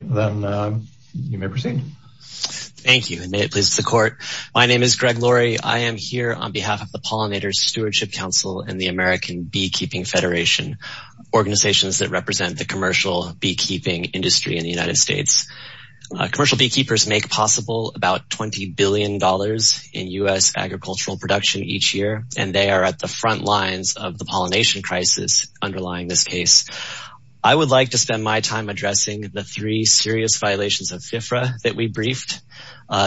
Then you may proceed. Thank you, and may it please the court. My name is Greg Laurie. I am here on behalf of the Pollinator Stewardship Council and the American Beekeeping Federation, organizations that represent the commercial beekeeping industry in the United States. Commercial beekeepers make possible about $20 billion in U.S. agricultural production each year, and they are at the front lines of the pollination crisis underlying this case. I would like to spend my time addressing the three serious violations of FFRA that we briefed.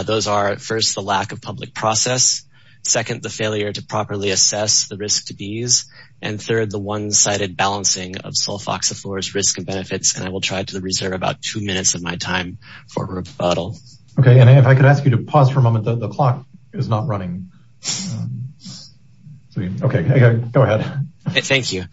Those are, first, the lack of public process, second, the failure to properly assess the risk to bees, and third, the one-sided balancing of sulfoxiflorous risk and benefits, and I will try to reserve about two minutes of my time for rebuttal. Okay, and if I could ask you to pause for a moment. The clock is not running. Okay, go ahead. Thank you.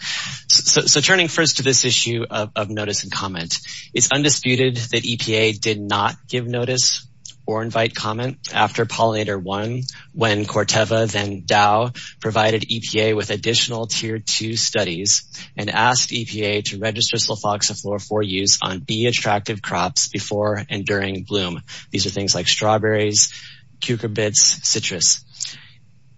So turning first to this issue of notice and comment. It's undisputed that EPA did not give notice or invite comment after Pollinator 1, when Corteva then Dow provided EPA with additional Tier 2 studies and asked EPA to register sulfoxiflor for use on bee attractive crops before and during bloom. These are things like strawberries, cucurbits, citrus.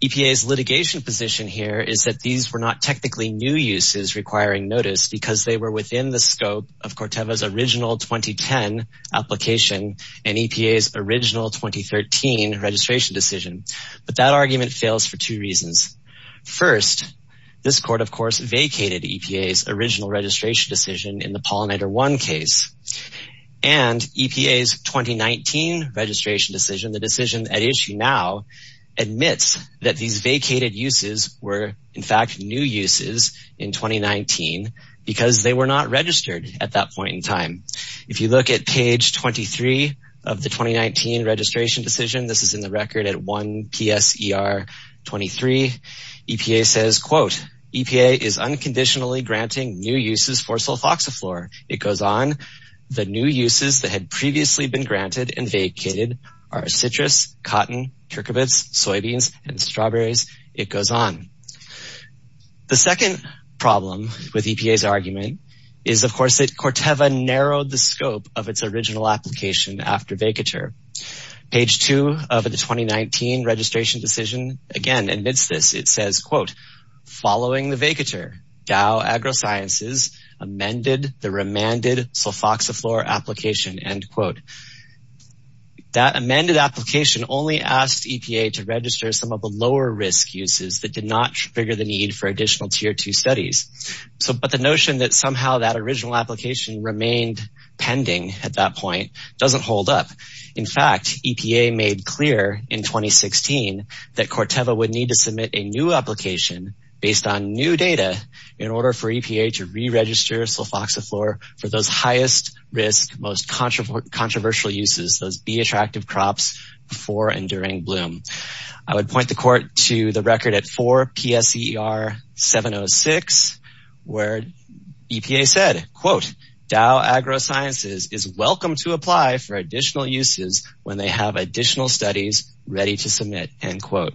EPA's litigation position here is that these were not technically new uses requiring notice because they were within the scope of Corteva's original 2010 application and EPA's original 2013 registration decision, but that argument fails for two reasons. First, this court, of course, vacated EPA's original registration decision in the Pollinator 1 case, and EPA's 2019 registration decision, the decision at issue now, admits that these vacated uses were, in fact, new uses in 2019 because they were not registered at that point in time. If you look at page 23 of the 2019 registration decision, this is in the record at 1 PSER 23, EPA says, quote, EPA is unconditionally granting new uses for sulfoxiflor. It goes on, the new uses that had previously been granted and vacated are citrus, cotton, cucurbits, soybeans, and strawberries. It goes on. The second problem with EPA's argument is, of course, that Corteva narrowed the scope of its original application after vacature. Page two of the 2019 registration decision, again, admits this. It says, quote, following the vacature, Dow AgroSciences amended the remanded sulfoxiflor application, end quote. That amended application only asked EPA to register some of the lower risk uses that did not trigger the need for additional tier two studies. So, but the notion that somehow that original application remained pending at that point doesn't hold up. In fact, EPA made clear in 2016 that Corteva would need to submit a new application based on new data in order for EPA to re-register sulfoxiflor for those highest risk, most controversial uses, those B-attractive crops before and during bloom. I would point the court to the record at 4 PSER 706, where EPA said, quote, Dow AgroSciences is welcome to apply for additional uses when they have additional studies ready to submit, end quote.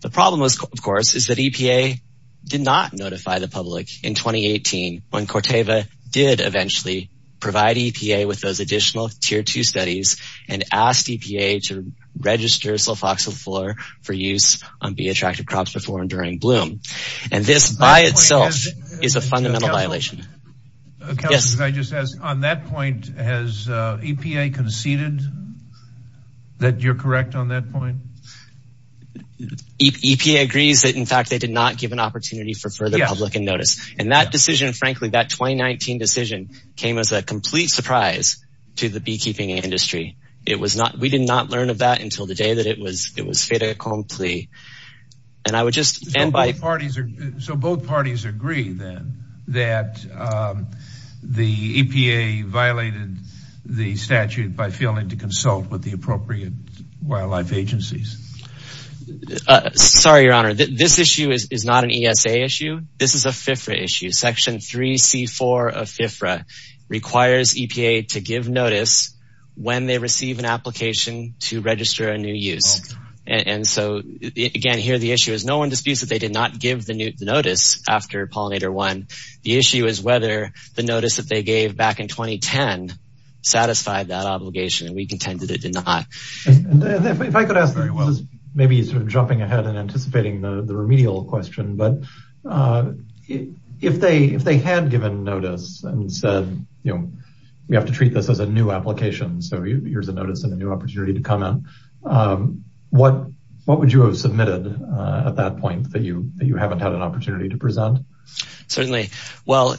The problem, of course, is that EPA did not notify the public in 2018 when Corteva did eventually provide EPA with those additional tier two studies and asked EPA to register sulfoxiflor for use on B-attractive crops before and during bloom. And this by itself is a fundamental violation. Counselor, can I just ask, on that point, has EPA conceded that you're correct on that point? EPA agrees that, in fact, they did not give an opportunity for further public notice. And that decision, frankly, that 2019 decision came as a complete surprise to the beekeeping industry. It was not, we did not learn of that until the day that it was, it was fait accompli. And I would just end by... So both parties agree then that the EPA violated the statute by failing to consult with the appropriate wildlife agencies? Sorry, your honor, this issue is not an ESA issue. This is a FIFRA issue. Section 3C4 of FIFRA requires EPA to give notice when they receive an application to register a new use. And so, again, here the issue is no one disputes that they did not give the notice after pollinator one. The issue is whether the notice that they gave back in 2010 satisfied that obligation. And we contended it did not. If I could ask, maybe sort of jumping ahead and anticipating the remedial question, but if they had given notice and said, you know, we have to treat this as a new application, so here's a notice and a new opportunity to comment. What would you have submitted at that point that you haven't had an opportunity to present? Certainly. Well,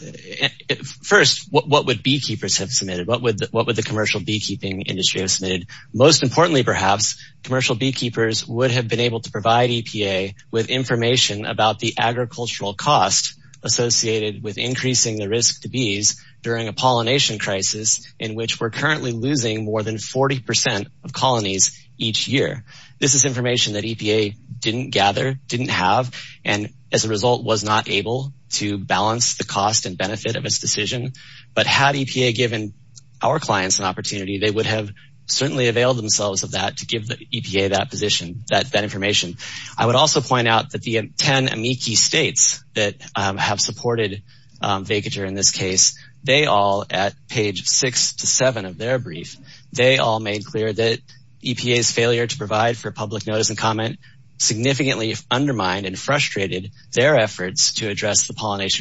first, what would beekeepers have submitted? What would the commercial beekeeping industry have submitted? Most importantly, perhaps, commercial beekeepers would have been able to provide EPA with information about the agricultural cost associated with increasing the risk to bees during a pollination crisis in which we're currently losing more than 40% of colonies each year. This is information that EPA didn't gather, didn't have, and as a result was not able to balance the cost and benefit of its decision. But had EPA given our clients an opportunity, they would have certainly availed themselves of that to give the EPA that position, that information. I would also point out that the 10 amici states that have supported vacature in this case, they all, at page six to seven of their brief, they all made clear that EPA's failure to provide for public notice and comment significantly undermined and frustrated their efforts to pollinate.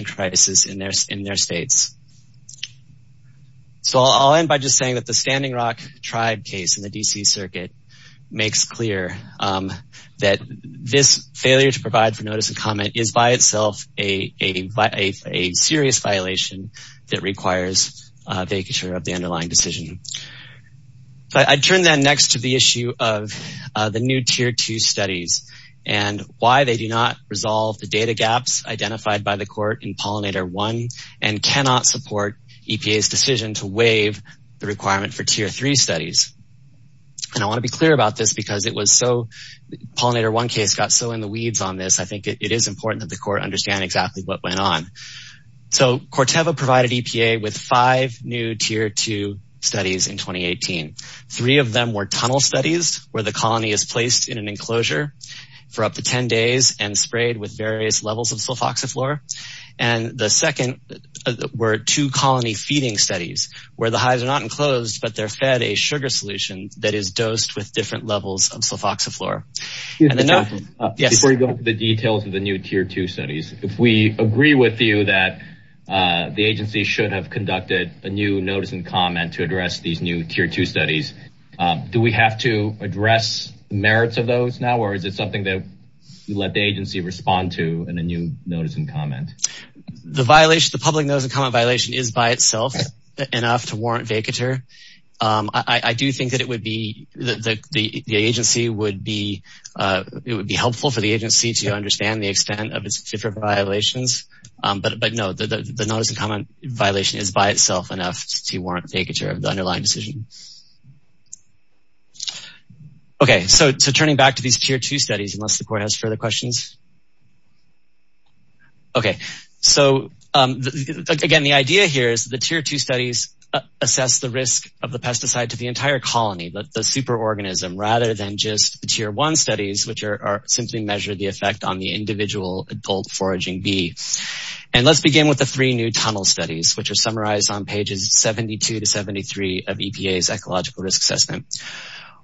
So I'll end by just saying that the Standing Rock tribe case in the DC circuit makes clear that this failure to provide for notice and comment is by itself a serious violation that requires vacature of the underlying decision. But I'd turn then next to the issue of the new tier two studies and why they do not resolve the data gaps identified by the court in pollinator one and cannot support EPA's decision to waive the requirement for tier three studies. And I want to be clear about this because pollinator one case got so in the weeds on this, I think it is important that the court understand exactly what went on. So Corteva provided EPA with five new tier two studies in 2018. Three of them were tunnel studies where the colony is placed in an enclosure for up to 10 days and sprayed with various levels sulfoxaflora. And the second were two colony feeding studies where the hives are not enclosed, but they're fed a sugar solution that is dosed with different levels of sulfoxaflora. Before you go into the details of the new tier two studies, if we agree with you that the agency should have conducted a new notice and comment to address these new tier two studies, do we have to address the merits of those now? Or is it something that let the agency respond to in a new notice and comment? The violation, the public notice and comment violation is by itself enough to warrant vacatur. I do think that it would be, the agency would be, it would be helpful for the agency to understand the extent of its different violations. But no, the notice and comment violation is by itself enough to warrant vacatur of the underlying decision. Okay, so turning back to these tier two studies, unless the court has further questions. Okay, so again, the idea here is the tier two studies assess the risk of the pesticide to the entire colony, but the super organism rather than just the tier one studies, which are simply measure the effect on the individual adult foraging bee. And let's begin with the three new tunnel studies, which are summarized on pages 72 to 73 of EPA's ecological risk assessment.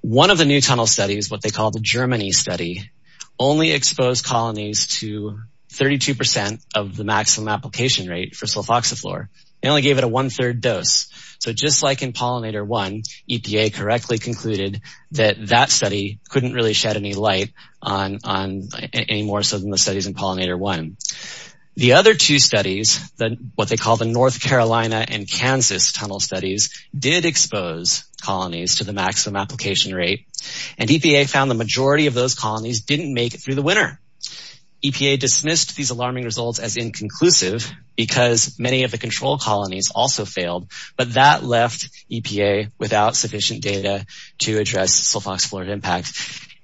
One of the new tunnel studies, what they call the Germany study, only expose colonies to 32% of the maximum application rate for sulfoxiflor. They only gave it a one third dose. So just like in pollinator one, EPA correctly concluded that that study couldn't really shed any light on, on any more so than the studies in pollinator one. The other two studies, what they call the North Carolina and Kansas tunnel studies did expose colonies to the maximum application rate. And EPA found the majority of those colonies didn't make it through the winter. EPA dismissed these alarming results as inconclusive because many of the control colonies also failed, but that left EPA without sufficient data to address sulfoxiflor impact.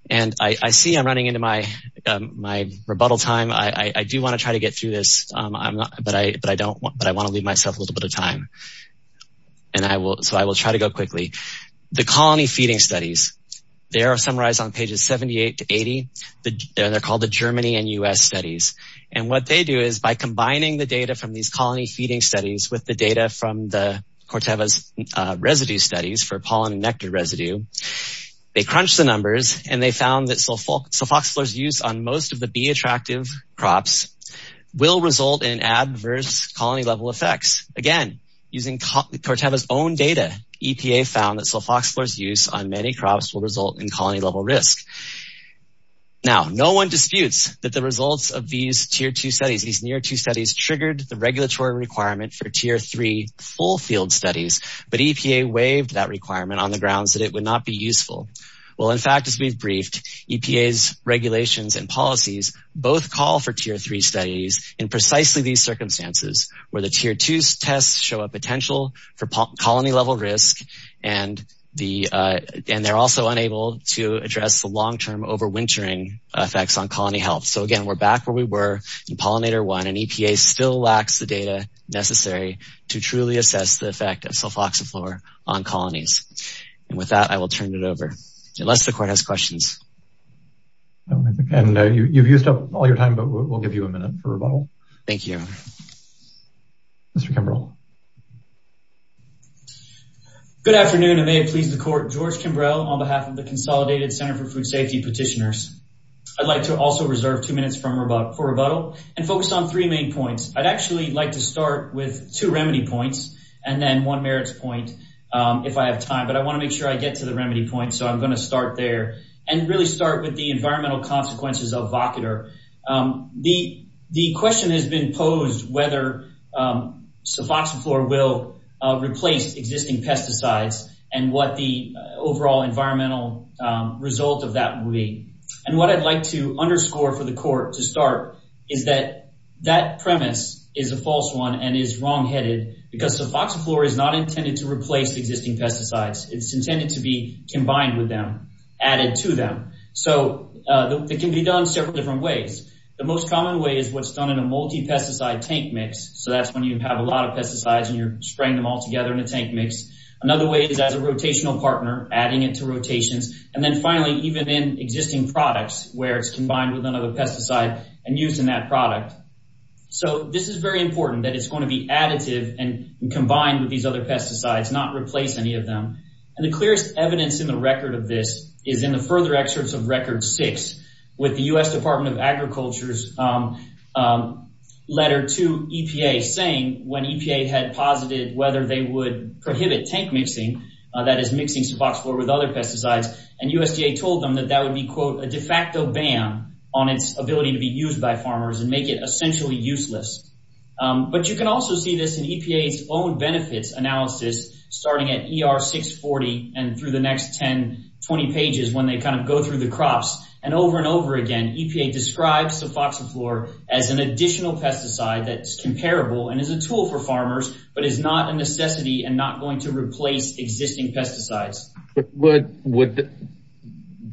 And I see I'm running into my, my rebuttal time. I do want to try to get through this, but I, but I don't want, but I want to leave myself a little bit of time. And I will, so I will try to go quickly. The colony feeding studies, they are summarized on pages 78 to 80. They're called the Germany and U.S. studies. And what they do is by combining the data from these colony feeding studies with the data from the Corteva's residue studies for pollen and nectar residue, they crunched the numbers and they found that sulfoxiflor use on most of the bee attractive crops will result in adverse colony level effects. Again, using Corteva's own data, EPA found that sulfoxiflor use on many crops will result in colony level risk. Now, no one disputes that the results of these tier two studies, these near two studies triggered the regulatory requirement for tier three full field studies, but EPA waived that requirement on the grounds that it would not be useful. Well, in fact, as we've briefed, EPA's regulations and policies both call for tier three studies in precisely these circumstances where the tier two tests show a potential for colony level risk and the, and they're also unable to address the long-term overwintering effects on colony health. So again, we're back where we were in pollinator one and EPA still lacks the data necessary to truly assess the effect of sulfoxiflor on colonies. And with that, I will turn it over unless the court has questions. And you've used up all your time, but we'll give you a minute for rebuttal. Thank you. Mr. Kimbrell. Good afternoon and may it please the court, George Kimbrell on behalf of the Consolidated Center for Food Safety petitioners. I'd like to also reserve two minutes for rebuttal and focus on three main points. I'd actually like to start with two remedy points and then one make sure I get to the remedy point. So I'm going to start there and really start with the environmental consequences of vocator. The, the question has been posed whether sulfoxiflor will replace existing pesticides and what the overall environmental result of that will be. And what I'd like to underscore for the court to start is that that premise is a false one and is wrong intended to be combined with them, added to them. So it can be done several different ways. The most common way is what's done in a multi pesticide tank mix. So that's when you have a lot of pesticides and you're spraying them all together in a tank mix. Another way is as a rotational partner, adding it to rotations. And then finally, even in existing products, where it's combined with another pesticide and using that product. So this is very important that it's going to be additive and combined with these other pesticides, not replace any of them. And the clearest evidence in the record of this is in the further excerpts of record six with the U.S. Department of Agriculture's letter to EPA saying when EPA had posited whether they would prohibit tank mixing, that is mixing sufoxiflor with other pesticides and USDA told them that that would be quote a de facto ban on its ability to be used by farmers and make it and through the next 10, 20 pages when they kind of go through the crops and over and over again, EPA describes sufoxiflor as an additional pesticide that's comparable and is a tool for farmers, but is not a necessity and not going to replace existing pesticides.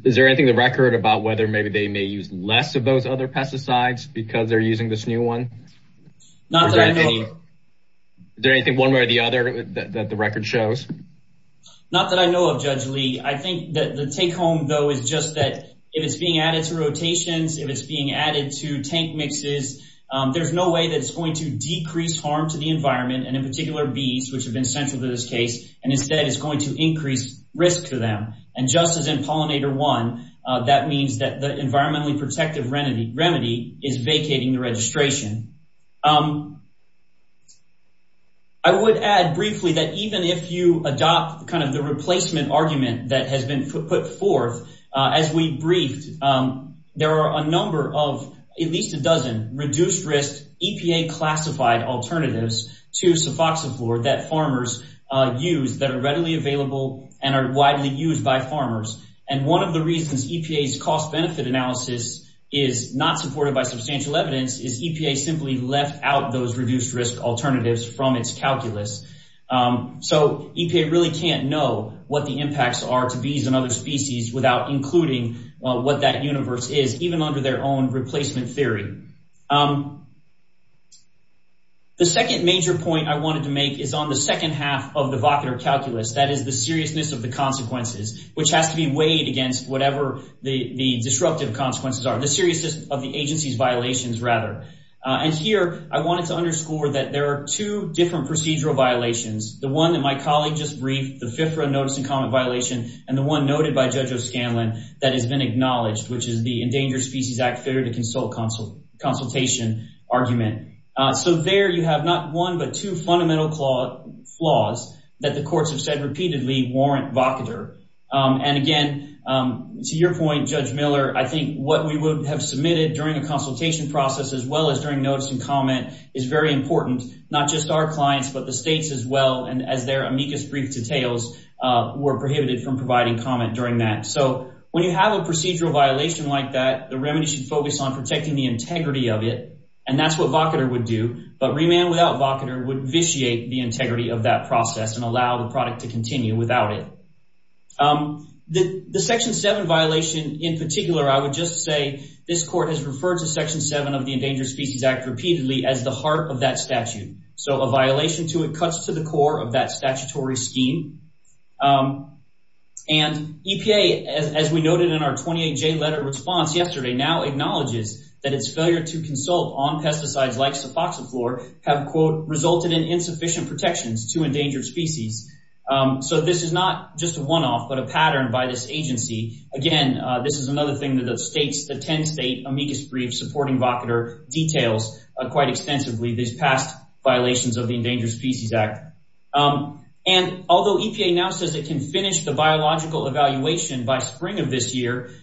Is there anything in the record about whether maybe they may use less of those other pesticides because they're using this new one? Not that I know of. Is there anything one way or the other that the record shows? Not that I know of Judge Lee. I think that the take home though is just that if it's being added to rotations, if it's being added to tank mixes, there's no way that it's going to decrease harm to the environment and in particular bees which have been central to this case and instead it's going to increase risk to them and just as in pollinator one, that means that the environmentally protective remedy is vacating the registration. I would add briefly that even if you adopt kind of the replacement argument that has been put forth, as we briefed, there are a number of at least a dozen reduced risk EPA classified alternatives to sufoxiflor that farmers use that are readily available and are widely used by farmers and one of the reasons EPA's cost benefit analysis is not supported by substantial evidence is EPA simply left out those reduced risk alternatives from its calculus so EPA really can't know what the impacts are to bees and other species without including what that universe is even under their own replacement theory. The second major point I wanted to make is on the second half of the vocator calculus that is the seriousness of the consequences which has to be weighed against whatever the the disruptive consequences are the seriousness of the violations rather and here I wanted to underscore that there are two different procedural violations the one that my colleague just briefed the fifth run notice and comment violation and the one noted by Judge O'Scanlan that has been acknowledged which is the endangered species act failure to consult consultation argument so there you have not one but two fundamental flaws that the courts have said repeatedly warrant vocator and again to your point Judge Miller I think what we would have submitted during a consultation process as well as during notice and comment is very important not just our clients but the states as well and as their amicus brief details were prohibited from providing comment during that so when you have a procedural violation like that the remedy should focus on protecting the integrity of it and that's what vocator would do but remand without vocator would vitiate the integrity of that process and allow the product to continue without it. The section 7 violation in particular I would just say this court has referred to section 7 of the endangered species act repeatedly as the heart of that statute so a violation to it cuts to the core of that statutory scheme and EPA as we noted in our 28j letter response yesterday now acknowledges that its failure to consult on pesticides like sufoxiflor have quote resulted in insufficient protections to endangered species so this is not just a one-off but a pattern by this agency again this is another thing that the states the 10 state amicus brief supporting vocator details quite extensively these past violations of the endangered species act and although EPA now says it can finish the biological evaluation by spring of this year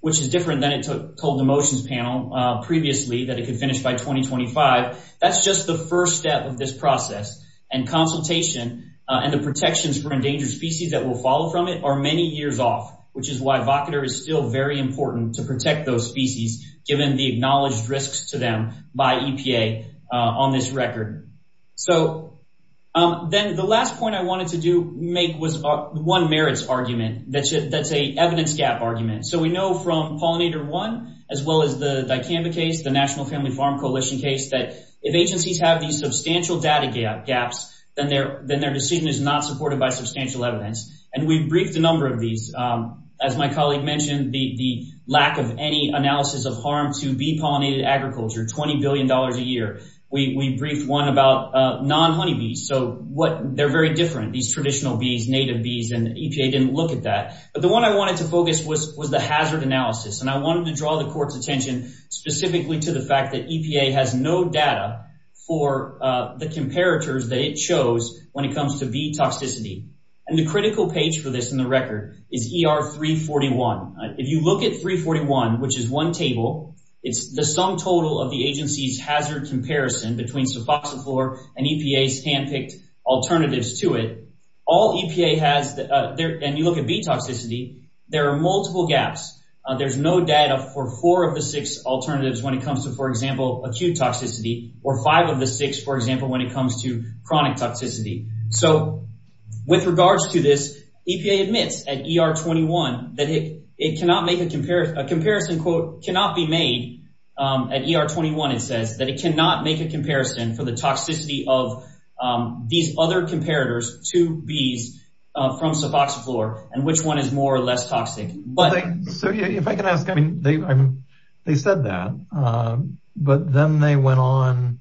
which is different than it took told the motions panel previously that it could finish by 2025 that's just the first step of this process and consultation and the protections for endangered species that will follow from it are many years off which is why vocator is still very important to protect those species given the acknowledged risks to them by EPA on this record so then the last point I wanted to do make was one merits argument that's a evidence gap argument so we if agencies have these substantial data gap gaps then their then their decision is not supported by substantial evidence and we briefed a number of these as my colleague mentioned the the lack of any analysis of harm to be pollinated agriculture 20 billion dollars a year we we briefed one about non-honey bees so what they're very different these traditional bees native bees and EPA didn't look at that but the one I wanted to focus was was the hazard analysis and I wanted to draw the court's attention specifically to the fact that EPA has no data for the comparators that it shows when it comes to bee toxicity and the critical page for this in the record is er 341 if you look at 341 which is one table it's the sum total of the agency's hazard comparison between suboxone floor and EPA's hand-picked alternatives to it all EPA has there and you look at bee gaps there's no data for four of the six alternatives when it comes to for example acute toxicity or five of the six for example when it comes to chronic toxicity so with regards to this EPA admits at er 21 that it it cannot make a comparison a comparison quote cannot be made at er 21 it says that it cannot make a comparison for the toxicity of these other comparators to bees from suboxone floor and which one is more or less toxic but so if I can ask I mean they I'm they said that um but then they went on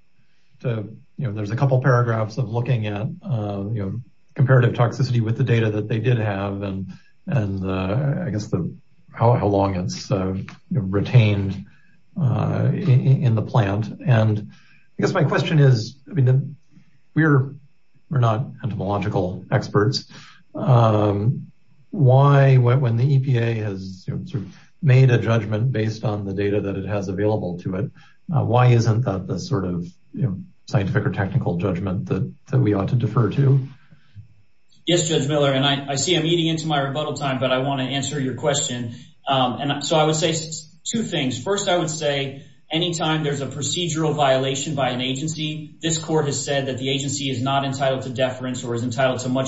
to you know there's a couple paragraphs of looking at uh you know comparative toxicity with the data that they did have and and uh I guess the how how long it's uh retained uh in the plant and I guess my question is I mean we're we're not entomological experts um why when the EPA has sort of made a judgment based on the data that it has available to it why isn't that the sort of you know scientific or technical judgment that that we ought to defer to yes judge miller and I see I'm eating into my rebuttal time but I want to answer your question um and so I would say two things first I would say anytime there's a much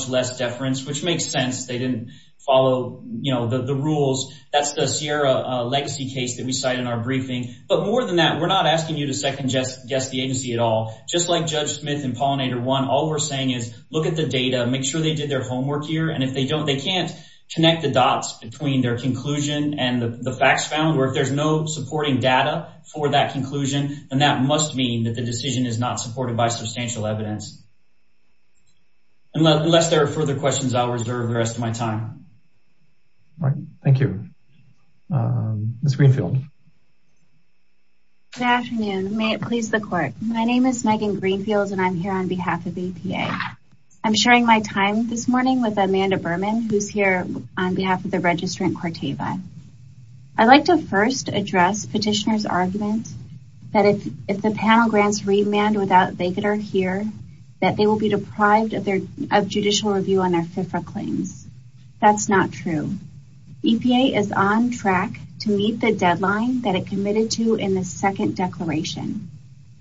less deference which makes sense they didn't follow you know the the rules that's the sierra legacy case that we cite in our briefing but more than that we're not asking you to second guess guess the agency at all just like judge smith and pollinator one all we're saying is look at the data make sure they did their homework here and if they don't they can't connect the dots between their conclusion and the facts found where if there's no supporting data for that conclusion then that must mean that the decision is not supported by substantial evidence unless there are further questions I'll reserve the rest of my time all right thank you um miss greenfield good afternoon may it please the court my name is Megan Greenfield and I'm here on behalf of EPA I'm sharing my time this morning with Amanda Berman who's here on behalf of the registrant Corteva I'd like to first address petitioner's argument that if if the panel grants remand without they could are here that they will be deprived of their of judicial review on their FIFRA claims that's not true EPA is on track to meet the deadline that it committed to in the second declaration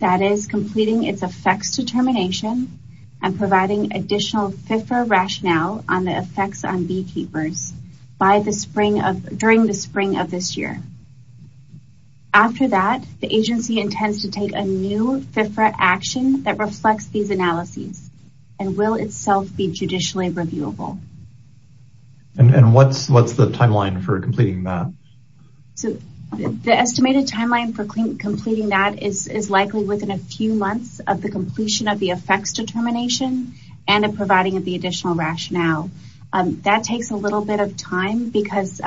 that is completing its effects determination and providing additional FIFRA rationale on the effects on beekeepers by the spring of during the spring of this year after that the agency intends to take a new FIFRA action that reflects these analyses and will itself be judicially reviewable and what's what's the timeline for completing that so the estimated timeline for completing that is is likely within a few months of the completion of the effects determination and providing of the additional rationale that takes a little bit of because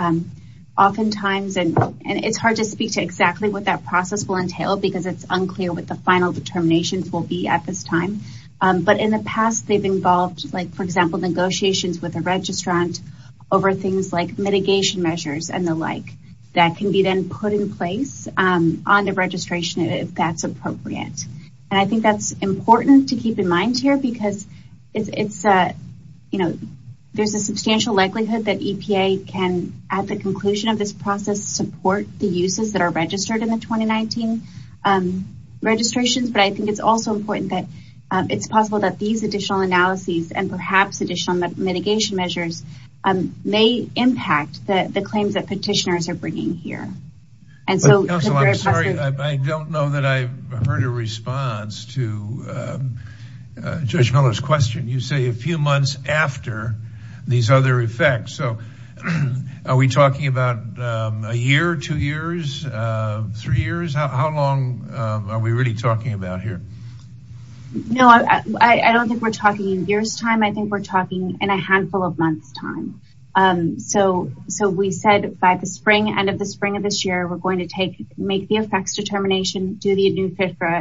oftentimes and it's hard to speak to exactly what that process will entail because it's unclear what the final determinations will be at this time but in the past they've involved like for example negotiations with a registrant over things like mitigation measures and the like that can be then put in place on the registration if that's appropriate and I think that's important to keep in mind here because it's a you know there's a substantial likelihood that EPA can at the conclusion of this process support the uses that are registered in the 2019 registrations but I think it's also important that it's possible that these additional analyses and perhaps additional mitigation measures may impact the the claims that petitioners are bringing here and so I'm sorry I don't know that I've heard a response to Judge Miller's question you say a few months after these other effects so are we talking about a year two years three years how long are we really talking about here no I don't think we're talking in years time I think we're talking in a handful of months time so so we said by the spring end of the spring of this year we're going to take make the effects determination do the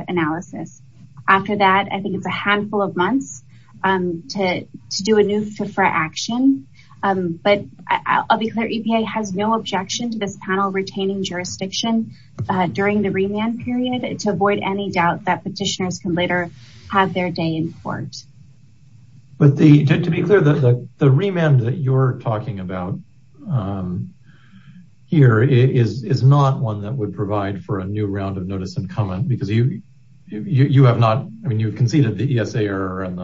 analysis after that I think it's a handful of months to do a new for action but I'll be clear EPA has no objection to this panel retaining jurisdiction during the remand period to avoid any doubt that petitioners can later have their day in court but the to be clear that the remand that you're talking about here is is not one that would provide for a new round of notice and comment because you you have not I mean you conceded the ESA error and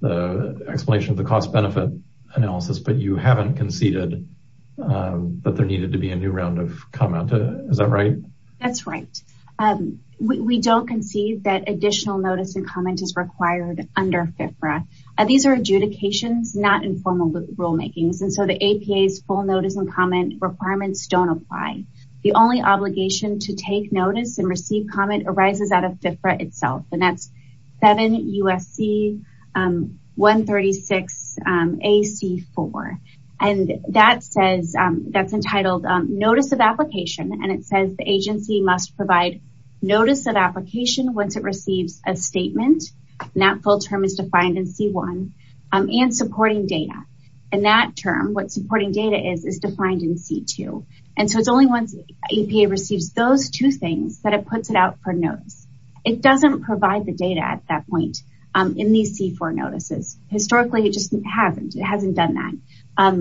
the explanation of the cost benefit analysis but you haven't conceded that there needed to be a new round of comment is that right that's right we don't concede that additional notice and comment is required under FFRA these are adjudications not informal rule makings and so the APA's full notice and comment requirements don't apply the only obligation to take notice and receive comment arises out of FFRA itself and that's 7 USC 136 AC4 and that says that's entitled notice of application and it says the agency must provide notice of application once it receives a statement and that full term is defined in C1 and supporting data and that term what supporting data is is defined in C2 and so it's only once EPA receives those two things that it puts it out for notice it doesn't provide the data at that point in these C4 notices historically it just hasn't it hasn't done that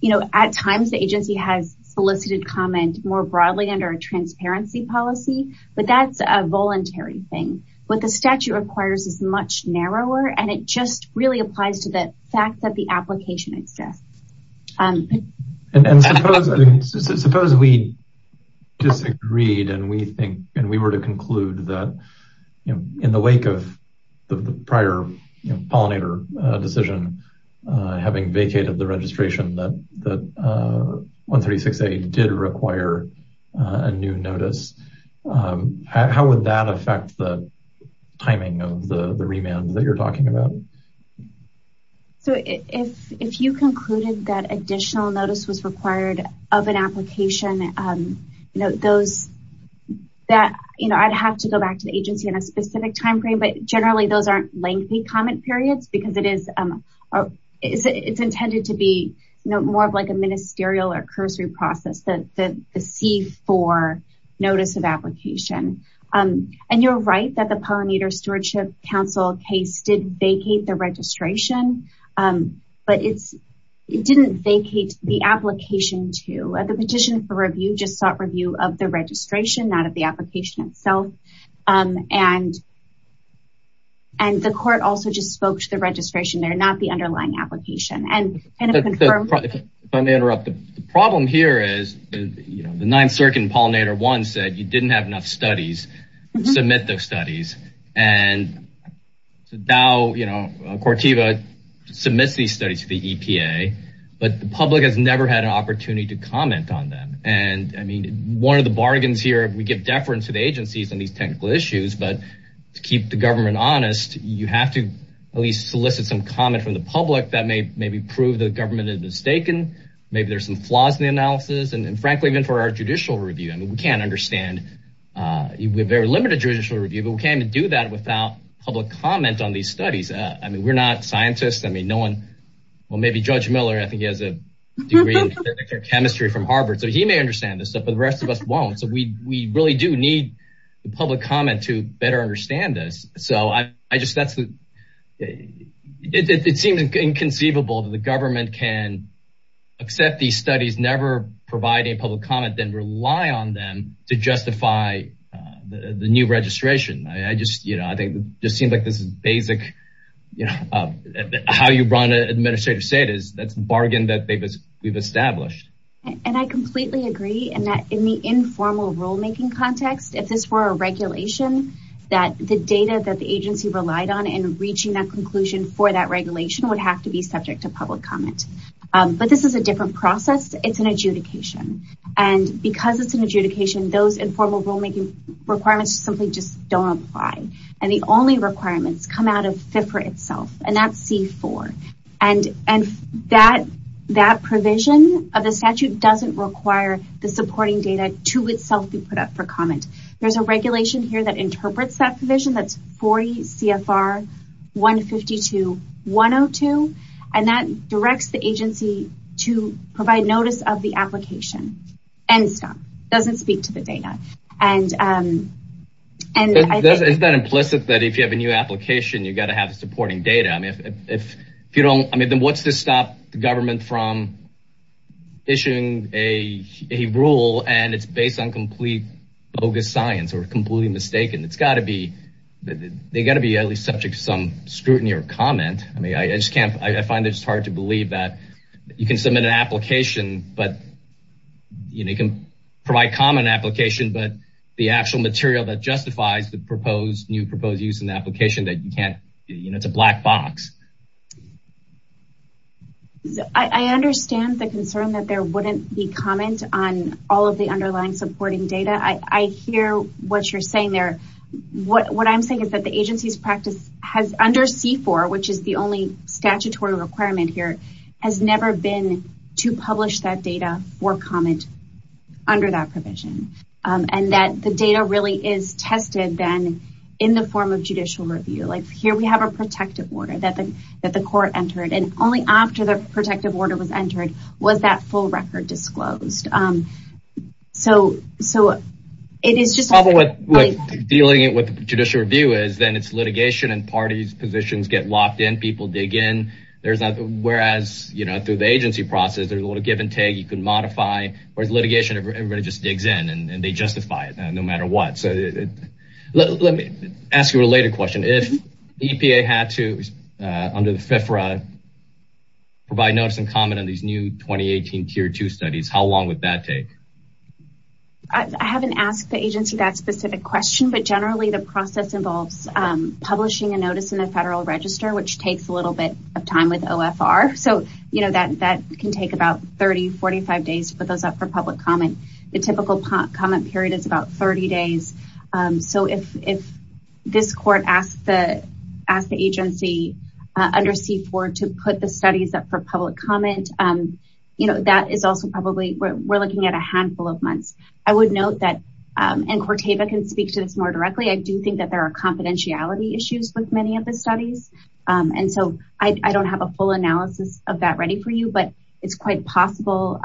you know at times the agency has solicited comment more broadly under a transparency policy but that's a voluntary thing what the statute requires is much narrower and it just really applies to the fact that the application exists and suppose we disagreed and we think and we were to conclude that you know in the wake of the prior pollinator decision having vacated the registration that 136A did require a new notice how would that affect the timing of the remand that you're talking about so if if you concluded that additional notice was required of an application you know those that you know I'd have to go back to the agency in a specific time frame but generally those aren't lengthy comment periods because it is it's intended to be you know more of like a ministerial or cursory process that the C4 notice of application and you're right that the pollinator stewardship council case did vacate the registration but it's it didn't vacate the application to at the petition for review just sought review of the registration not of the application itself and and the court also just spoke to the registration there not the if I may interrupt the problem here is you know the ninth circuit pollinator one said you didn't have enough studies submit those studies and now you know CORTIVA submits these studies to the EPA but the public has never had an opportunity to comment on them and I mean one of the bargains here we give deference to the agencies on these technical issues but to keep the government honest you have to at least solicit some comment from the public that may maybe prove the government is mistaken maybe there's some flaws in the analysis and frankly even for our judicial review I mean we can't understand uh we're very limited judicial review but we can't even do that without public comment on these studies uh I mean we're not scientists I mean no one well maybe judge Miller I think he has a degree in chemistry from Harvard so he may understand this stuff but the rest of us won't so we we really do need the public comment to better understand this so I accept these studies never providing public comment then rely on them to justify the new registration I just you know I think it just seems like this is basic you know how you brought an administrator say it is that's the bargain that they've established and I completely agree and that in the informal rulemaking context if this were a regulation that the data that the agency relied on and reaching that conclusion for that regulation would have to be subject to public comment but this is a different process it's an adjudication and because it's an adjudication those informal rulemaking requirements simply just don't apply and the only requirements come out of FIFRA itself and that's c4 and and that that provision of the statute doesn't require the supporting data to itself be put up for comment there's a regulation here that interprets that provision that's 40 CFR 152-102 and that directs the agency to provide notice of the application and stop doesn't speak to the data and um and is that implicit that if you have a new application you got to have supporting data I mean if if you don't I mean then what's to stop the government from issuing a a rule and it's based on complete bogus science or completely mistaken it's got to be they got to be at least subject to some scrutiny or comment I mean I just can't I find it's hard to believe that you can submit an application but you know you can provide common application but the actual material that justifies the proposed new proposed use in the application that you can't you know it's a black box I understand the concern that there wouldn't be comment on all of the underlying supporting data I hear what you're saying there what what I'm saying is that the agency's practice has under c4 which is the only statutory requirement here has never been to publish that data for comment under that provision and that the data really is tested then in the form of judicial review like here we have a protective order that the that the court entered and only after the protective order was entered was that full record disclosed so so it is just probably what dealing with judicial review is then it's litigation and parties positions get locked in people dig in there's not whereas you know through the agency process there's a lot of give and take you can modify whereas litigation everybody just digs in and they justify it no matter what so let me ask you a later question if the EPA had to under the FIFRA provide notice and comment on these new 2018 tier 2 studies how long would that take I haven't asked the agency that specific question but generally the process involves publishing a notice in the federal register which takes a little bit of time with OFR so you know that that can take about 30-45 days to put those up for public comment the typical comment period is about 30 days so if this court asked the agency under C4 to put the studies up for public comment you know that is also probably we're looking at a handful of months I would note that and Corteva can speak to this more directly I do think that there are confidentiality issues with many of the studies and so I don't have a full analysis of that ready for you but it's quite possible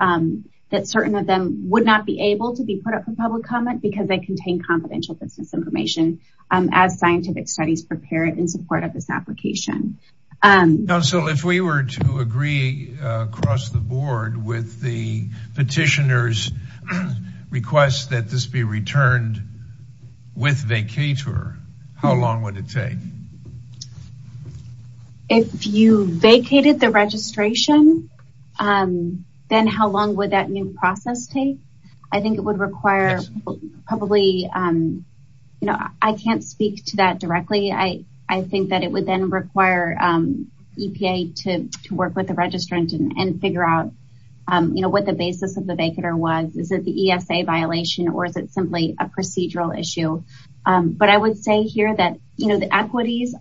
that certain of them would not be able to be put up for public comment because they contain confidential business information as scientific studies prepared in support of this application. Now so if we were to agree across the board with the petitioner's request that this be returned with vacatur how long would it take? If you vacated the registration then how long would that new process take? I think it would require probably you know I can't speak to that directly I think that it would then require EPA to work with the registrant and figure out you know what the basis of the vacatur was is it the ESA violation or is it simply a procedural issue but I would say here that you know the equities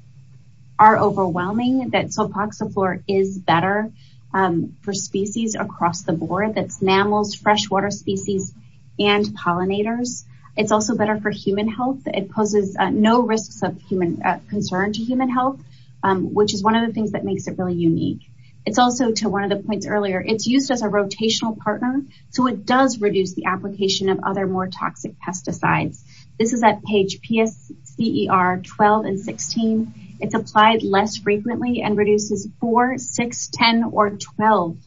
are overwhelming that soapoxy is better for species across the board that's enamels, freshwater species and pollinators. It's also better for human health it poses no risks of human concern to human health which is one of the things that makes it really unique. It's also to one of the points earlier it's used as a rotational partner so it does reduce the application of other more toxic pesticides. This is at page PSCER 12 and 16. It's applied less frequently and reduces 4, 6, 10 or 12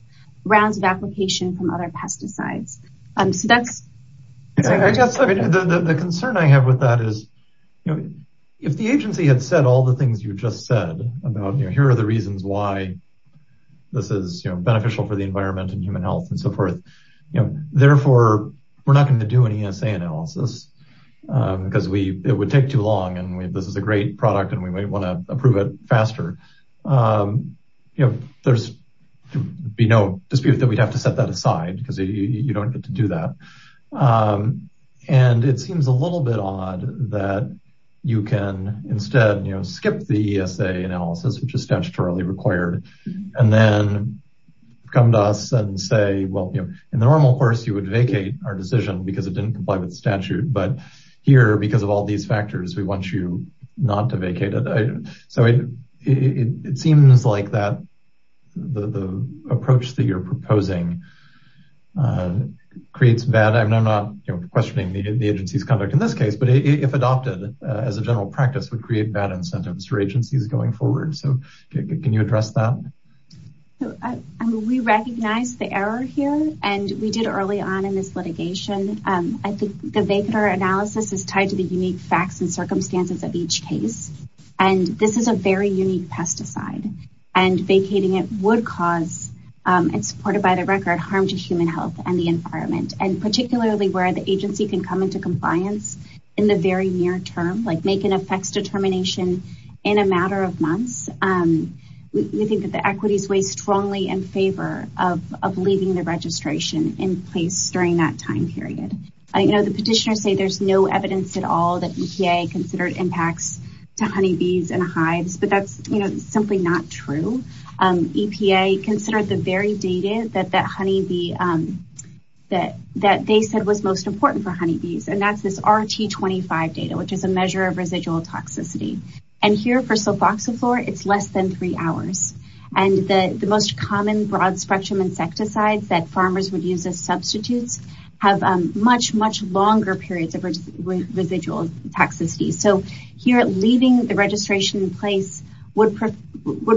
rounds of application from other pesticides. So that's I guess the concern I have with that is you know if the agency had said all the things you just said about you know here are the reasons why this is you know beneficial for the environment and human health and so forth you know therefore we're not going to do an ESA analysis because we it would take too long and we this is a great product and we might want to approve it faster. You know there's be no dispute that we'd have to set that aside because you don't get to do that and it seems a little bit odd that you can instead you know skip the ESA analysis which is statutorily required and then come to us and say well you know in the normal course you would vacate our decision because it didn't comply with the statute but here because of all these factors we want you not to vacate it. So it seems like that the approach that you're proposing creates bad I'm not you know questioning the agency's conduct in this case but if adopted as a general practice would create bad incentives for agencies going forward. So can you address that? We recognize the error here and we did early on in this litigation. I think the vacator analysis is tied to the unique facts and circumstances of each case and this is a very unique pesticide and vacating it would cause and supported by the record harm to human health and the environment and particularly where the in a matter of months we think that the equities weigh strongly in favor of leaving the registration in place during that time period. I know the petitioners say there's no evidence at all that EPA considered impacts to honeybees and hives but that's you know simply not true. EPA considered the very data that that honeybee that that they said was most important for honeybees and that's RT25 data which is a measure of residual toxicity and here for sulfoxiflora it's less than three hours and the the most common broad spectrum insecticides that farmers would use as substitutes have much much longer periods of residual toxicity. So here leaving the registration in place would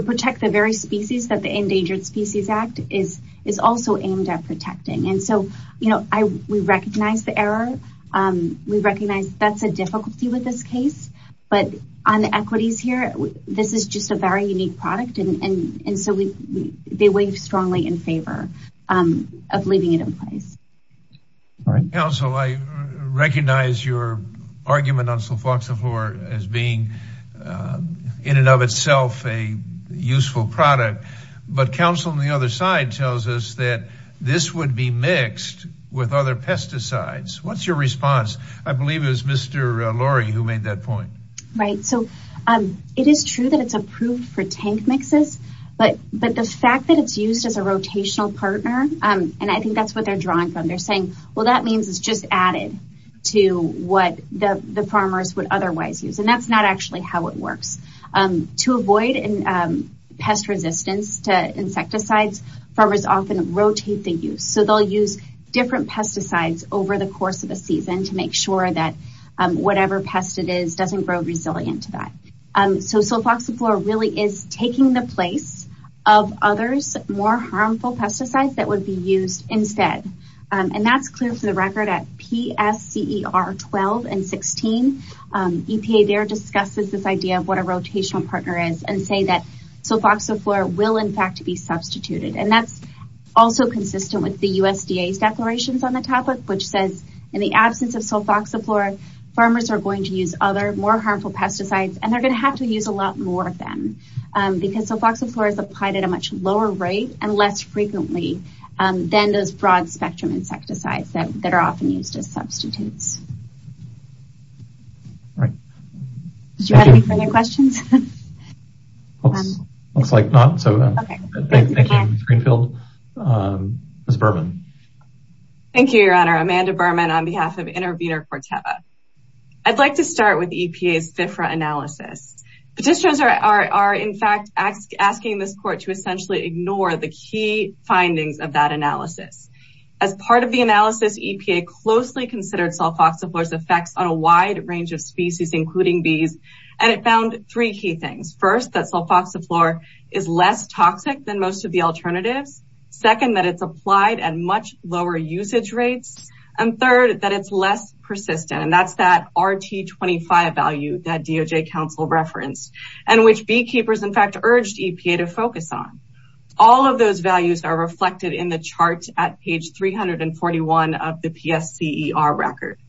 protect the very species that the Endangered Species Act is is also aimed at protecting and so you know I we recognize the error we recognize that's a difficulty with this case but on the equities here this is just a very unique product and and and so we they weigh strongly in favor of leaving it in place. All right counsel I recognize your argument on sulfoxiflora as being in and of itself a useful product but counsel on the other side tells us that this would be mixed other pesticides. What's your response? I believe it was Mr. Lori who made that point. Right so it is true that it's approved for tank mixes but but the fact that it's used as a rotational partner and I think that's what they're drawing from they're saying well that means it's just added to what the the farmers would otherwise use and that's not actually how it works. To avoid pest resistance to insecticides farmers often rotate the use so they'll use different pesticides over the course of a season to make sure that whatever pest it is doesn't grow resilient to that. So sulfoxiflora really is taking the place of others more harmful pesticides that would be used instead and that's clear for the record at PSCER 12 and 16 EPA there discusses this idea of what a rotational partner is and say that sulfoxiflora will in fact be substituted and that's also consistent with the USDA's declarations on the topic which says in the absence of sulfoxiflora farmers are going to use other more harmful pesticides and they're going to have to use a lot more of them because sulfoxiflora is applied at a much lower rate and less frequently than those broad spectrum insecticides that are often used as substitutes. All right did you have any further questions? Looks like not so thank you Ms. Greenfield. Ms. Berman. Thank you your honor Amanda Berman on behalf of Intervenor Corteva. I'd like to start with EPA's FIFRA analysis. Petitioners are in fact asking this court to essentially ignore the key findings of that analysis. As part of the analysis EPA closely considered sulfoxiflora's effects on a wide range of species including bees and it found three key things. First that sulfoxiflora is less toxic than most of the alternatives. Second that it's applied at much lower usage rates and third that it's less persistent and that's that RT25 value that DOJ council referenced and which beekeepers in fact the PSCER record.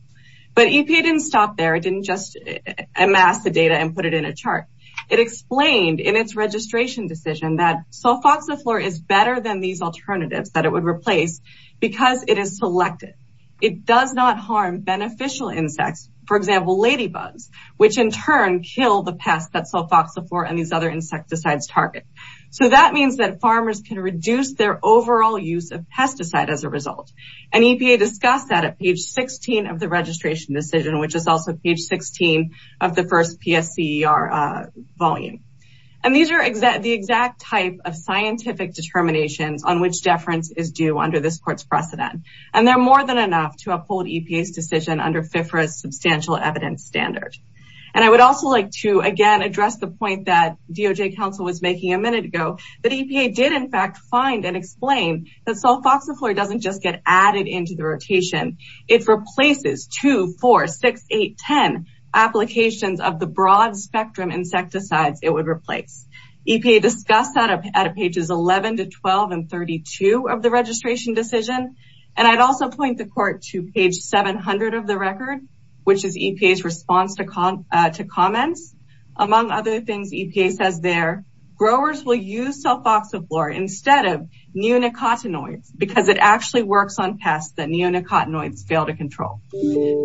But EPA didn't stop there it didn't just amass the data and put it in a chart. It explained in its registration decision that sulfoxiflora is better than these alternatives that it would replace because it is selected. It does not harm beneficial insects for example lady bugs which in turn kill the pests that sulfoxiflora and these other insecticides target. So that means that farmers can reduce their overall use of pesticide as a result and EPA discussed that at page 16 of the registration decision which is also page 16 of the first PSCER volume. And these are the exact type of scientific determinations on which deference is due under this court's precedent and they're more than enough to uphold EPA's decision under FIFRA's substantial evidence standard. And I would also like to again address the point that DOJ council was making a minute ago that EPA did in fact find and explain that sulfoxiflora doesn't just get added into the rotation it replaces 2, 4, 6, 8, 10 applications of the broad spectrum insecticides it would replace. EPA discussed that at pages 11 to 12 and 32 of the registration decision and I'd also point the court to page 700 of the record which is EPA's response to comments among other things EPA says there growers will use sulfoxiflora instead of neonicotinoids because it actually works on pests that neonicotinoids fail to control.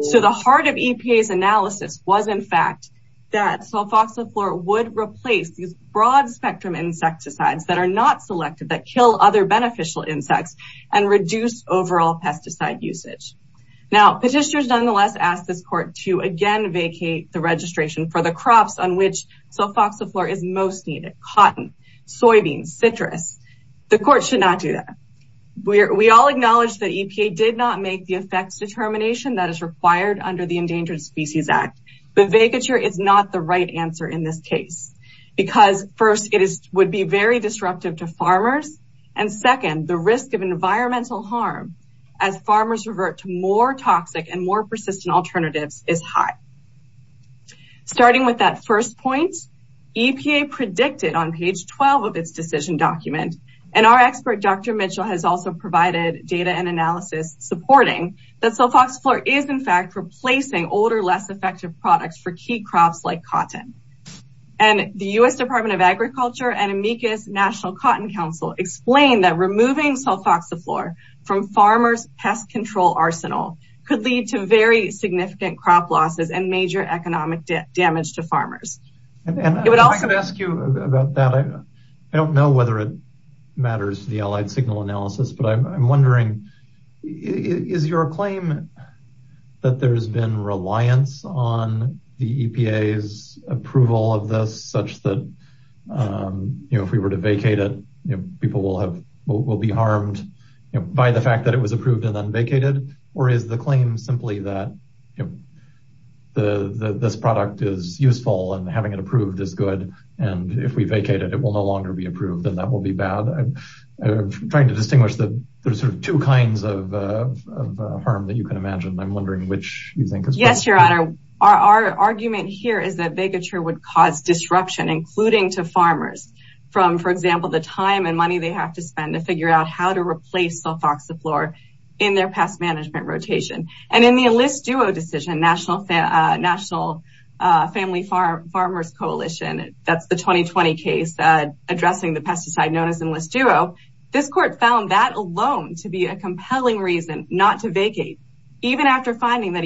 So the heart of EPA's analysis was in fact that sulfoxiflora would replace these broad spectrum insecticides that are not selected that kill other beneficial insects and reduce overall pesticide usage. Now petitioners nonetheless asked this court to again vacate the registration for the crops on which sulfoxiflora is most needed cotton, soybeans, citrus. The court should not do that. We all acknowledge that EPA did not make the effects determination that is required under the Endangered Species Act but vacature is not the right answer in this case because first it is very disruptive to farmers and second the risk of environmental harm as farmers revert to more toxic and more persistent alternatives is high. Starting with that first point EPA predicted on page 12 of its decision document and our expert Dr. Mitchell has also provided data and analysis supporting that sulfoxiflora is in fact replacing older less effective products for key crops like National Cotton Council explained that removing sulfoxiflora from farmers pest control arsenal could lead to very significant crop losses and major economic damage to farmers. And I can ask you about that I don't know whether it matters the allied signal analysis but I'm wondering is your claim that there's been reliance on the EPA's approval of this such that you know if we were to vacate it you know people will have will be harmed by the fact that it was approved and then vacated or is the claim simply that you know the this product is useful and having it approved is good and if we vacate it it will no longer be approved and that will be bad trying to distinguish the there's sort of two kinds of harm that you can imagine I'm wondering which you think is yes your honor our argument here is that vacature would cause disruption including to farmers from for example the time and money they have to spend to figure out how to replace sulfoxiflora in their pest management rotation and in the Enlist Duo decision National Family Farmers Coalition that's the 2020 case addressing the pesticide known as Enlist Duo this court found that alone to be a compelling reason not to vacate even after finding that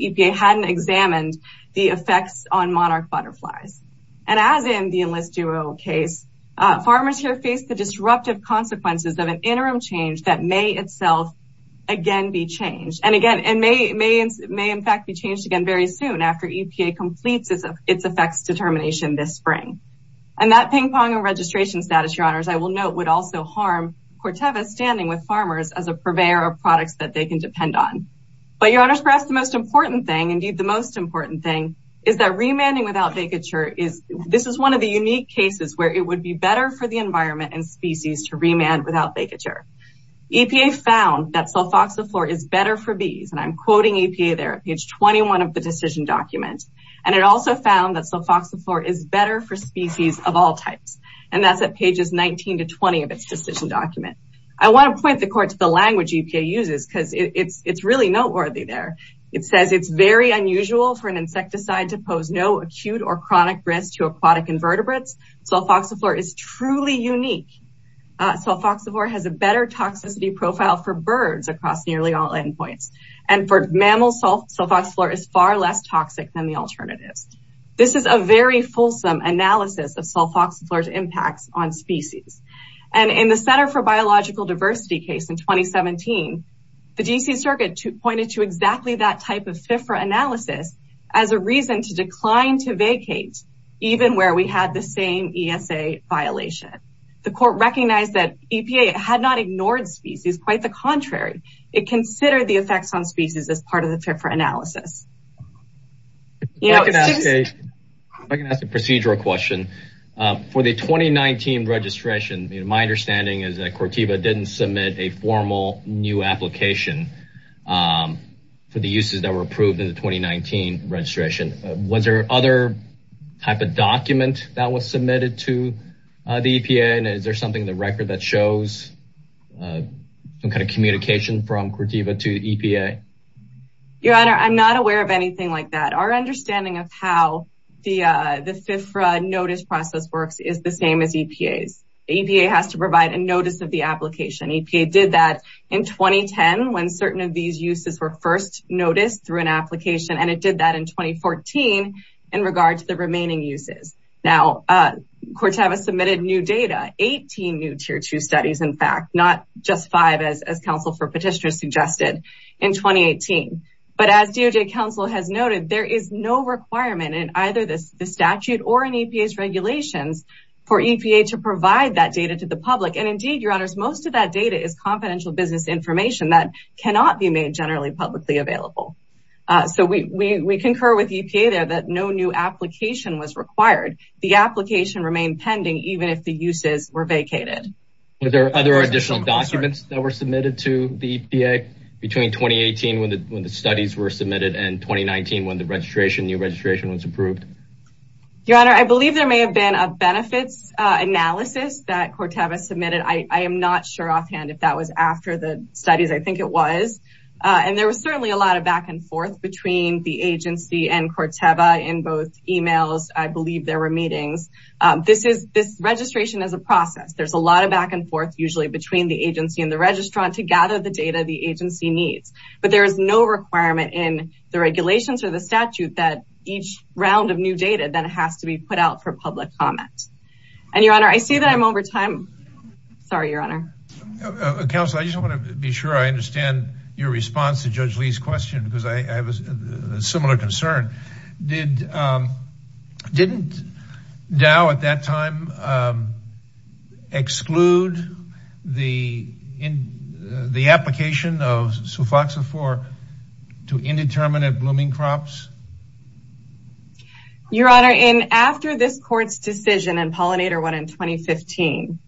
EPA hadn't examined the effects on monarch butterflies and as in the Enlist Duo case farmers here face the disruptive consequences of an interim change that may itself again be changed and again and may may may in fact be changed again very soon after EPA completes its effects determination this spring and that ping-pong and registration status your honors I will note would also harm Corteva standing with farmers as a purveyor of products that they can depend on but your honors perhaps the most important thing indeed the most important thing is that remanding without vacature is this is one of the unique cases where it would be better for the environment and species to remand without vacature EPA found that sulfoxiflora is better for bees and I'm quoting EPA there page 21 of the decision document and it also found that sulfoxiflora is better for species of all types and that's at pages 19 to 20 of its decision document I want to point the language EPA uses because it's it's really noteworthy there it says it's very unusual for an insecticide to pose no acute or chronic risk to aquatic invertebrates sulfoxiflora is truly unique sulfoxiflora has a better toxicity profile for birds across nearly all endpoints and for mammals sulfoxiflora is far less toxic than the alternatives this is a very fulsome analysis of sulfoxiflora's impacts on species and in the center for biological diversity case in 2017 the D.C. circuit pointed to exactly that type of FIFRA analysis as a reason to decline to vacate even where we had the same ESA violation the court recognized that EPA had not ignored species quite the contrary it considered the effects on species as part of the FIFRA analysis I can ask a procedural question for the 2019 registration my understanding is that CORTIVA didn't submit a formal new application for the uses that were approved in the 2019 registration was there other type of document that was submitted to the EPA and is there something in the record that shows some kind of communication from CORTIVA to EPA your honor I'm not aware of anything like that our understanding of how the the FIFRA notice process works is the same as EPA's EPA has to provide a notice of the application EPA did that in 2010 when certain of these uses were first noticed through an application and it did that in 2014 in regard to the remaining uses now CORTIVA submitted new data 18 new tier 2 studies in fact not just five as council for petitioners suggested in 2018 but as DOJ council has noted there is no requirement in either this the statute or in EPA's regulations for EPA to provide that data to the public and indeed your honors most of that data is confidential business information that cannot be made generally publicly available so we we concur with EPA there that no new application was required the application remained pending even if the uses were vacated were there other additional documents that were submitted to the EPA between 2018 when the when the studies were submitted and 2019 when the registration new registration was approved your honor I believe there may have been a benefits analysis that CORTIVA submitted I am not sure offhand if that was after the studies I think it was and there was certainly a lot of back and forth between the agency and CORTIVA in both emails I believe there were meetings this is this registration is a process there's a lot of back and forth usually between the agency and the registrant to gather the data the agency needs but there is no requirement in the regulations or the statute that each round of new data then has to be put out for public comment and your honor I see that I'm over time sorry your honor council I just want to be sure I understand your response to Judge Lee's question because I have a similar concern did didn't Dow at that time exclude the in the application of sulfoxafor to indeterminate blooming crops your honor in after this court's decision and pollinator one in 2015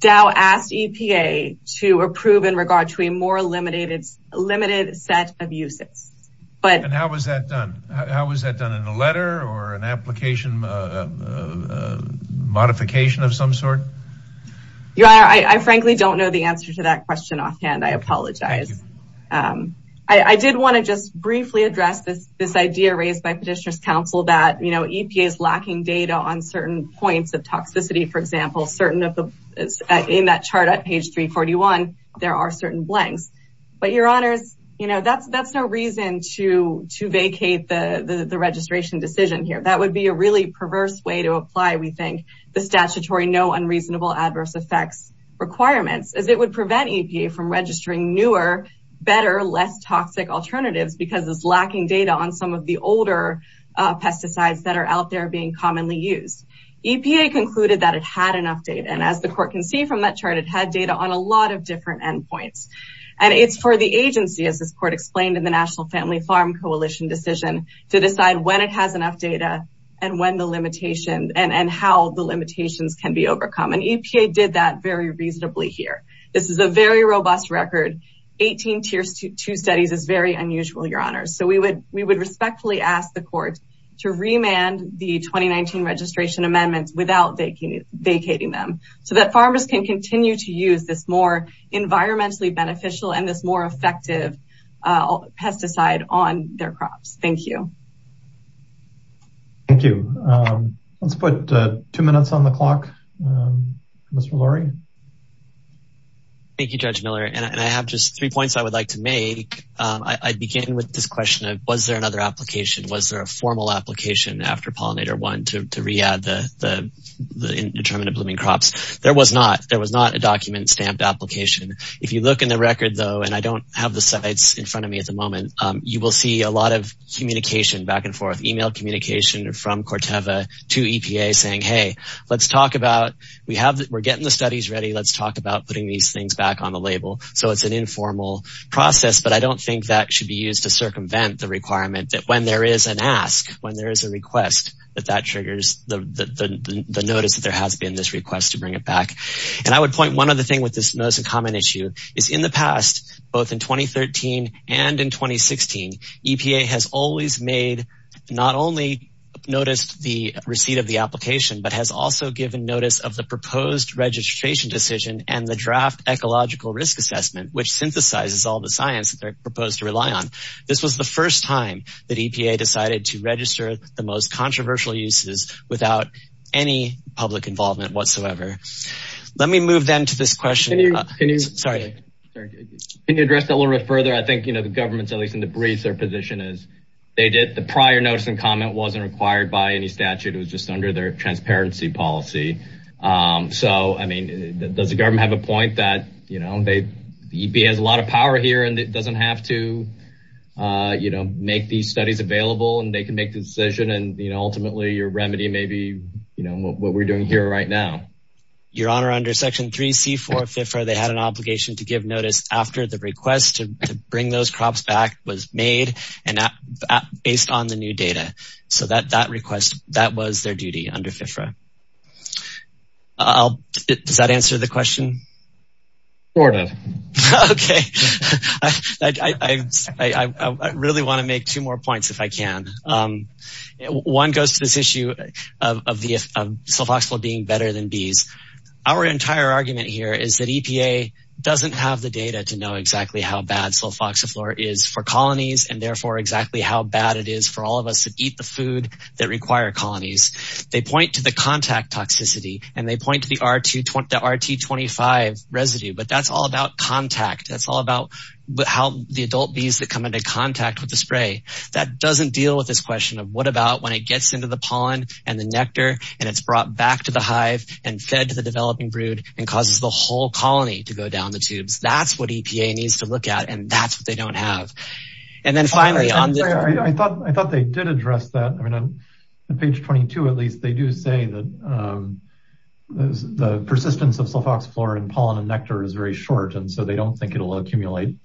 Dow asked EPA to approve in regard to a more limited limited set of uses but and how was that done how was that done in a letter or an application modification of some sort your honor I frankly don't know the answer to that question offhand I apologize I did want to just briefly address this this idea raised by petitioners council that EPA is lacking data on certain points of toxicity for example certain of the in that chart at page 341 there are certain blanks but your honors you know that's that's no reason to to vacate the the registration decision here that would be a really perverse way to apply we think the statutory no unreasonable adverse effects requirements as it would prevent EPA from registering newer better less toxic alternatives because it's lacking data on some the older pesticides that are out there being commonly used EPA concluded that it had enough data and as the court can see from that chart it had data on a lot of different endpoints and it's for the agency as this court explained in the national family farm coalition decision to decide when it has enough data and when the limitation and and how the limitations can be overcome and EPA did that very reasonably here this is a very robust record 18 tiers two studies is very unusual your honors so we would we would respectfully ask the court to remand the 2019 registration amendments without vacating vacating them so that farmers can continue to use this more environmentally beneficial and this more effective pesticide on their crops thank you thank you let's put two minutes on the clock Mr. Lurie thank you Judge Miller and I have just three points I would like to make I begin with this question of was there another application was there a formal application after pollinator one to re-add the the indeterminate blooming crops there was not there was not a document stamped application if you look in the record though and I don't have the sites in front of me at the moment you will see a lot of communication back and forth email communication from Corteva to EPA saying hey let's talk about we have that we're getting the studies ready let's talk about putting these things back on the label so it's an informal process but I don't think that should be used to circumvent the requirement that when there is an ask when there is a request that that triggers the the notice that there has been this request to bring it back and I would point one other thing with this most common issue is in the past both in 2013 and in 2016 EPA has always made not only noticed the receipt of the application but has also given notice of the proposed registration decision and the draft ecological risk assessment which synthesizes all the science that they're proposed to rely on this was the first time that EPA decided to register the most controversial uses without any public involvement whatsoever let me move them to this question sorry can you address that a little bit further I think you know the government's at least in the briefs their position is they did the prior notice and comment wasn't required by any statute it was just under their transparency policy so I mean does the government have a point that you know they the EPA has a lot of power here and it doesn't have to uh you know make these studies available and they can make the decision and you know ultimately your remedy may be you know what we're doing here right now your honor under section 3c for FIFRA they had an obligation to give notice after the request to bring those crops back was made and that based on the new data so that that request that was their duty under FIFRA I'll does that answer the question sort of okay I really want to make two more points if I can one goes to this issue of the sulfoxiflora being better than bees our entire argument here is that EPA doesn't have the data to know exactly how bad sulfoxiflora is for colonies and therefore exactly how bad it is for all of us to eat the food that require colonies they point to the contact toxicity and they point to the r2 the rt25 residue but that's all about contact that's all about how the adult bees that come into contact with the spray that doesn't deal with this question of what about when it gets into the pollen and the nectar and it's brought back to the hive and fed to the developing brood and causes the whole colony to go down the tubes that's what EPA needs to look at and that's what they don't have and then finally I thought I thought they did address that I mean on page 22 at least they do say that the persistence of sulfoxiflora and pollen and nectar is very short and so they don't think it'll accumulate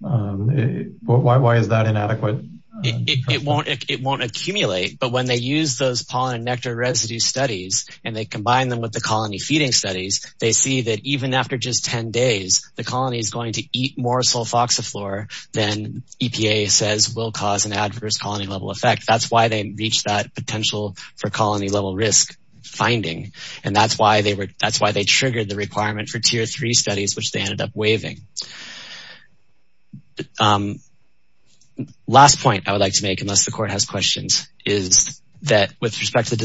why is that inadequate it won't it won't accumulate but when they use those pollen and nectar residue studies and they combine them with the colony feeding studies they see that even after just 10 days the colony is going to eat more sulfoxiflora than EPA says will cause an adverse colony level effect that's why they reach that potential for colony level risk finding and that's why they were that's why they triggered the requirement for tier three studies which they ended up waiving last point I would like to make unless the court has questions is that with respect to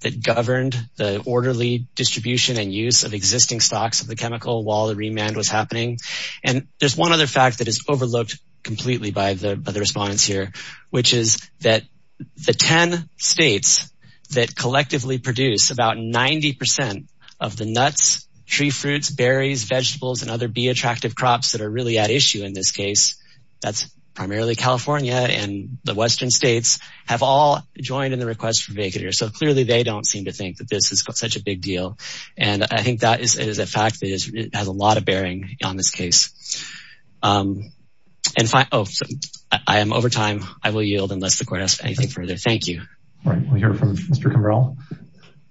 that governed the orderly distribution and use of existing stocks of the chemical while the remand was happening and there's one other fact that is overlooked completely by the by the respondents here which is that the 10 states that collectively produce about 90 percent of the nuts tree fruits berries vegetables and other bee attractive crops that are really at issue in this case that's primarily California and the western states have all joined in the request for that and they don't seem to think that this is such a big deal and I think that is it is a fact that it has a lot of bearing on this case and I am over time I will yield unless the court has anything further thank you all right we'll hear from Mr. Kimbrell so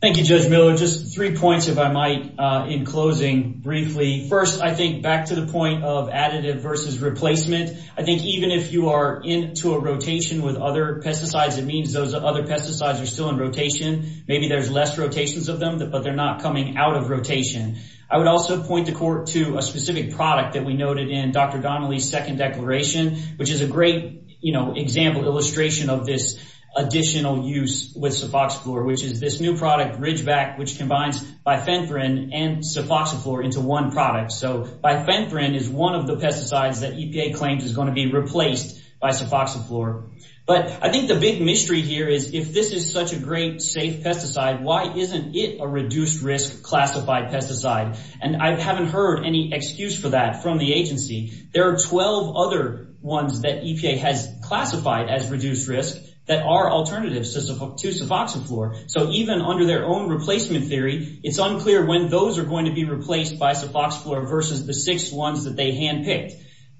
thank you Judge Miller just three points if I might uh in closing briefly first I think back to the point of additive versus replacement I think even if you are into a rotation with other pesticides it means those other pesticides are still in rotation maybe there's less rotations of them but they're not coming out of rotation I would also point the court to a specific product that we noted in Dr. Donnelly's second declaration which is a great you know example illustration of this additional use with suffoxiflor which is this new product Ridgeback which combines bifenthrin and suffoxiflor into one product so bifenthrin is one of the pesticides that EPA claims is going to be replaced by suffoxiflor but I think the big mystery here is if this is such a great safe pesticide why isn't it a reduced risk classified pesticide and I haven't heard any excuse for that from the agency there are 12 other ones that EPA has classified as reduced risk that are alternatives to suffoxiflor so even under their own replacement theory it's unclear when those are going to be replaced by suffoxiflor versus the six ones that they hand-picked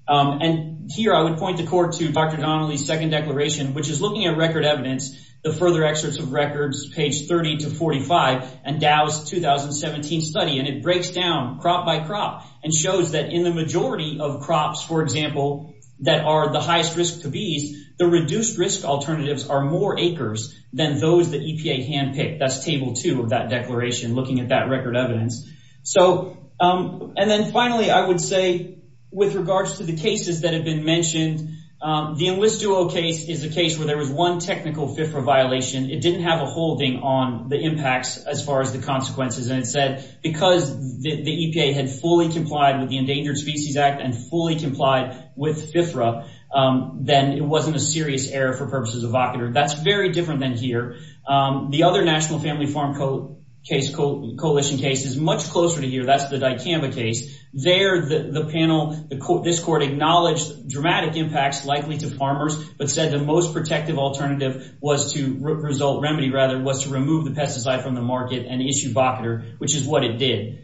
and here I would point the court to Dr. Donnelly's second declaration which is looking at record evidence the further excerpts of records page 30 to 45 and Dow's 2017 study and it breaks down crop by crop and shows that in the majority of crops for example that are the highest risk to bees the reduced risk alternatives are more acres than those that EPA hand-picked that's table two of that declaration looking at that record evidence so and then finally I would say with regards to cases that have been mentioned the Enlist Duo case is a case where there was one technical FIFRA violation it didn't have a holding on the impacts as far as the consequences and it said because the EPA had fully complied with the Endangered Species Act and fully complied with FIFRA then it wasn't a serious error for purposes of vocator that's very different than here the other National Family Farm Coalition case is much closer to here that's the acknowledged dramatic impacts likely to farmers but said the most protective alternative was to result remedy rather was to remove the pesticide from the market and issue vocator which is what it did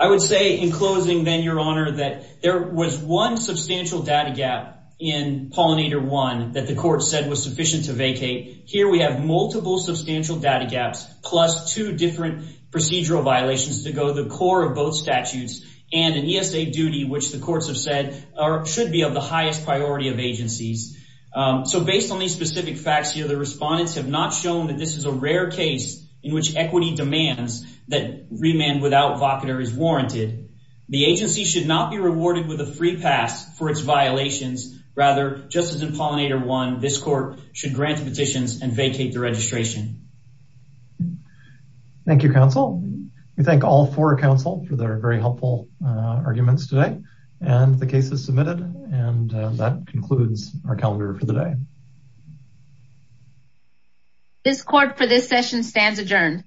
I would say in closing then your honor that there was one substantial data gap in pollinator one that the court said was sufficient to vacate here we have multiple substantial data gaps plus two different procedural violations to go the core of both statutes and an ESA duty which the courts have said are should be of the highest priority of agencies so based on these specific facts here the respondents have not shown that this is a rare case in which equity demands that remand without vocator is warranted the agency should not be rewarded with a free pass for its violations rather just as in pollinator one this court should grant petitions and vacate the registration thank you counsel we thank all four counsel for their very helpful arguments today and the case is submitted and that concludes our calendar for the day this court for this session stands adjourned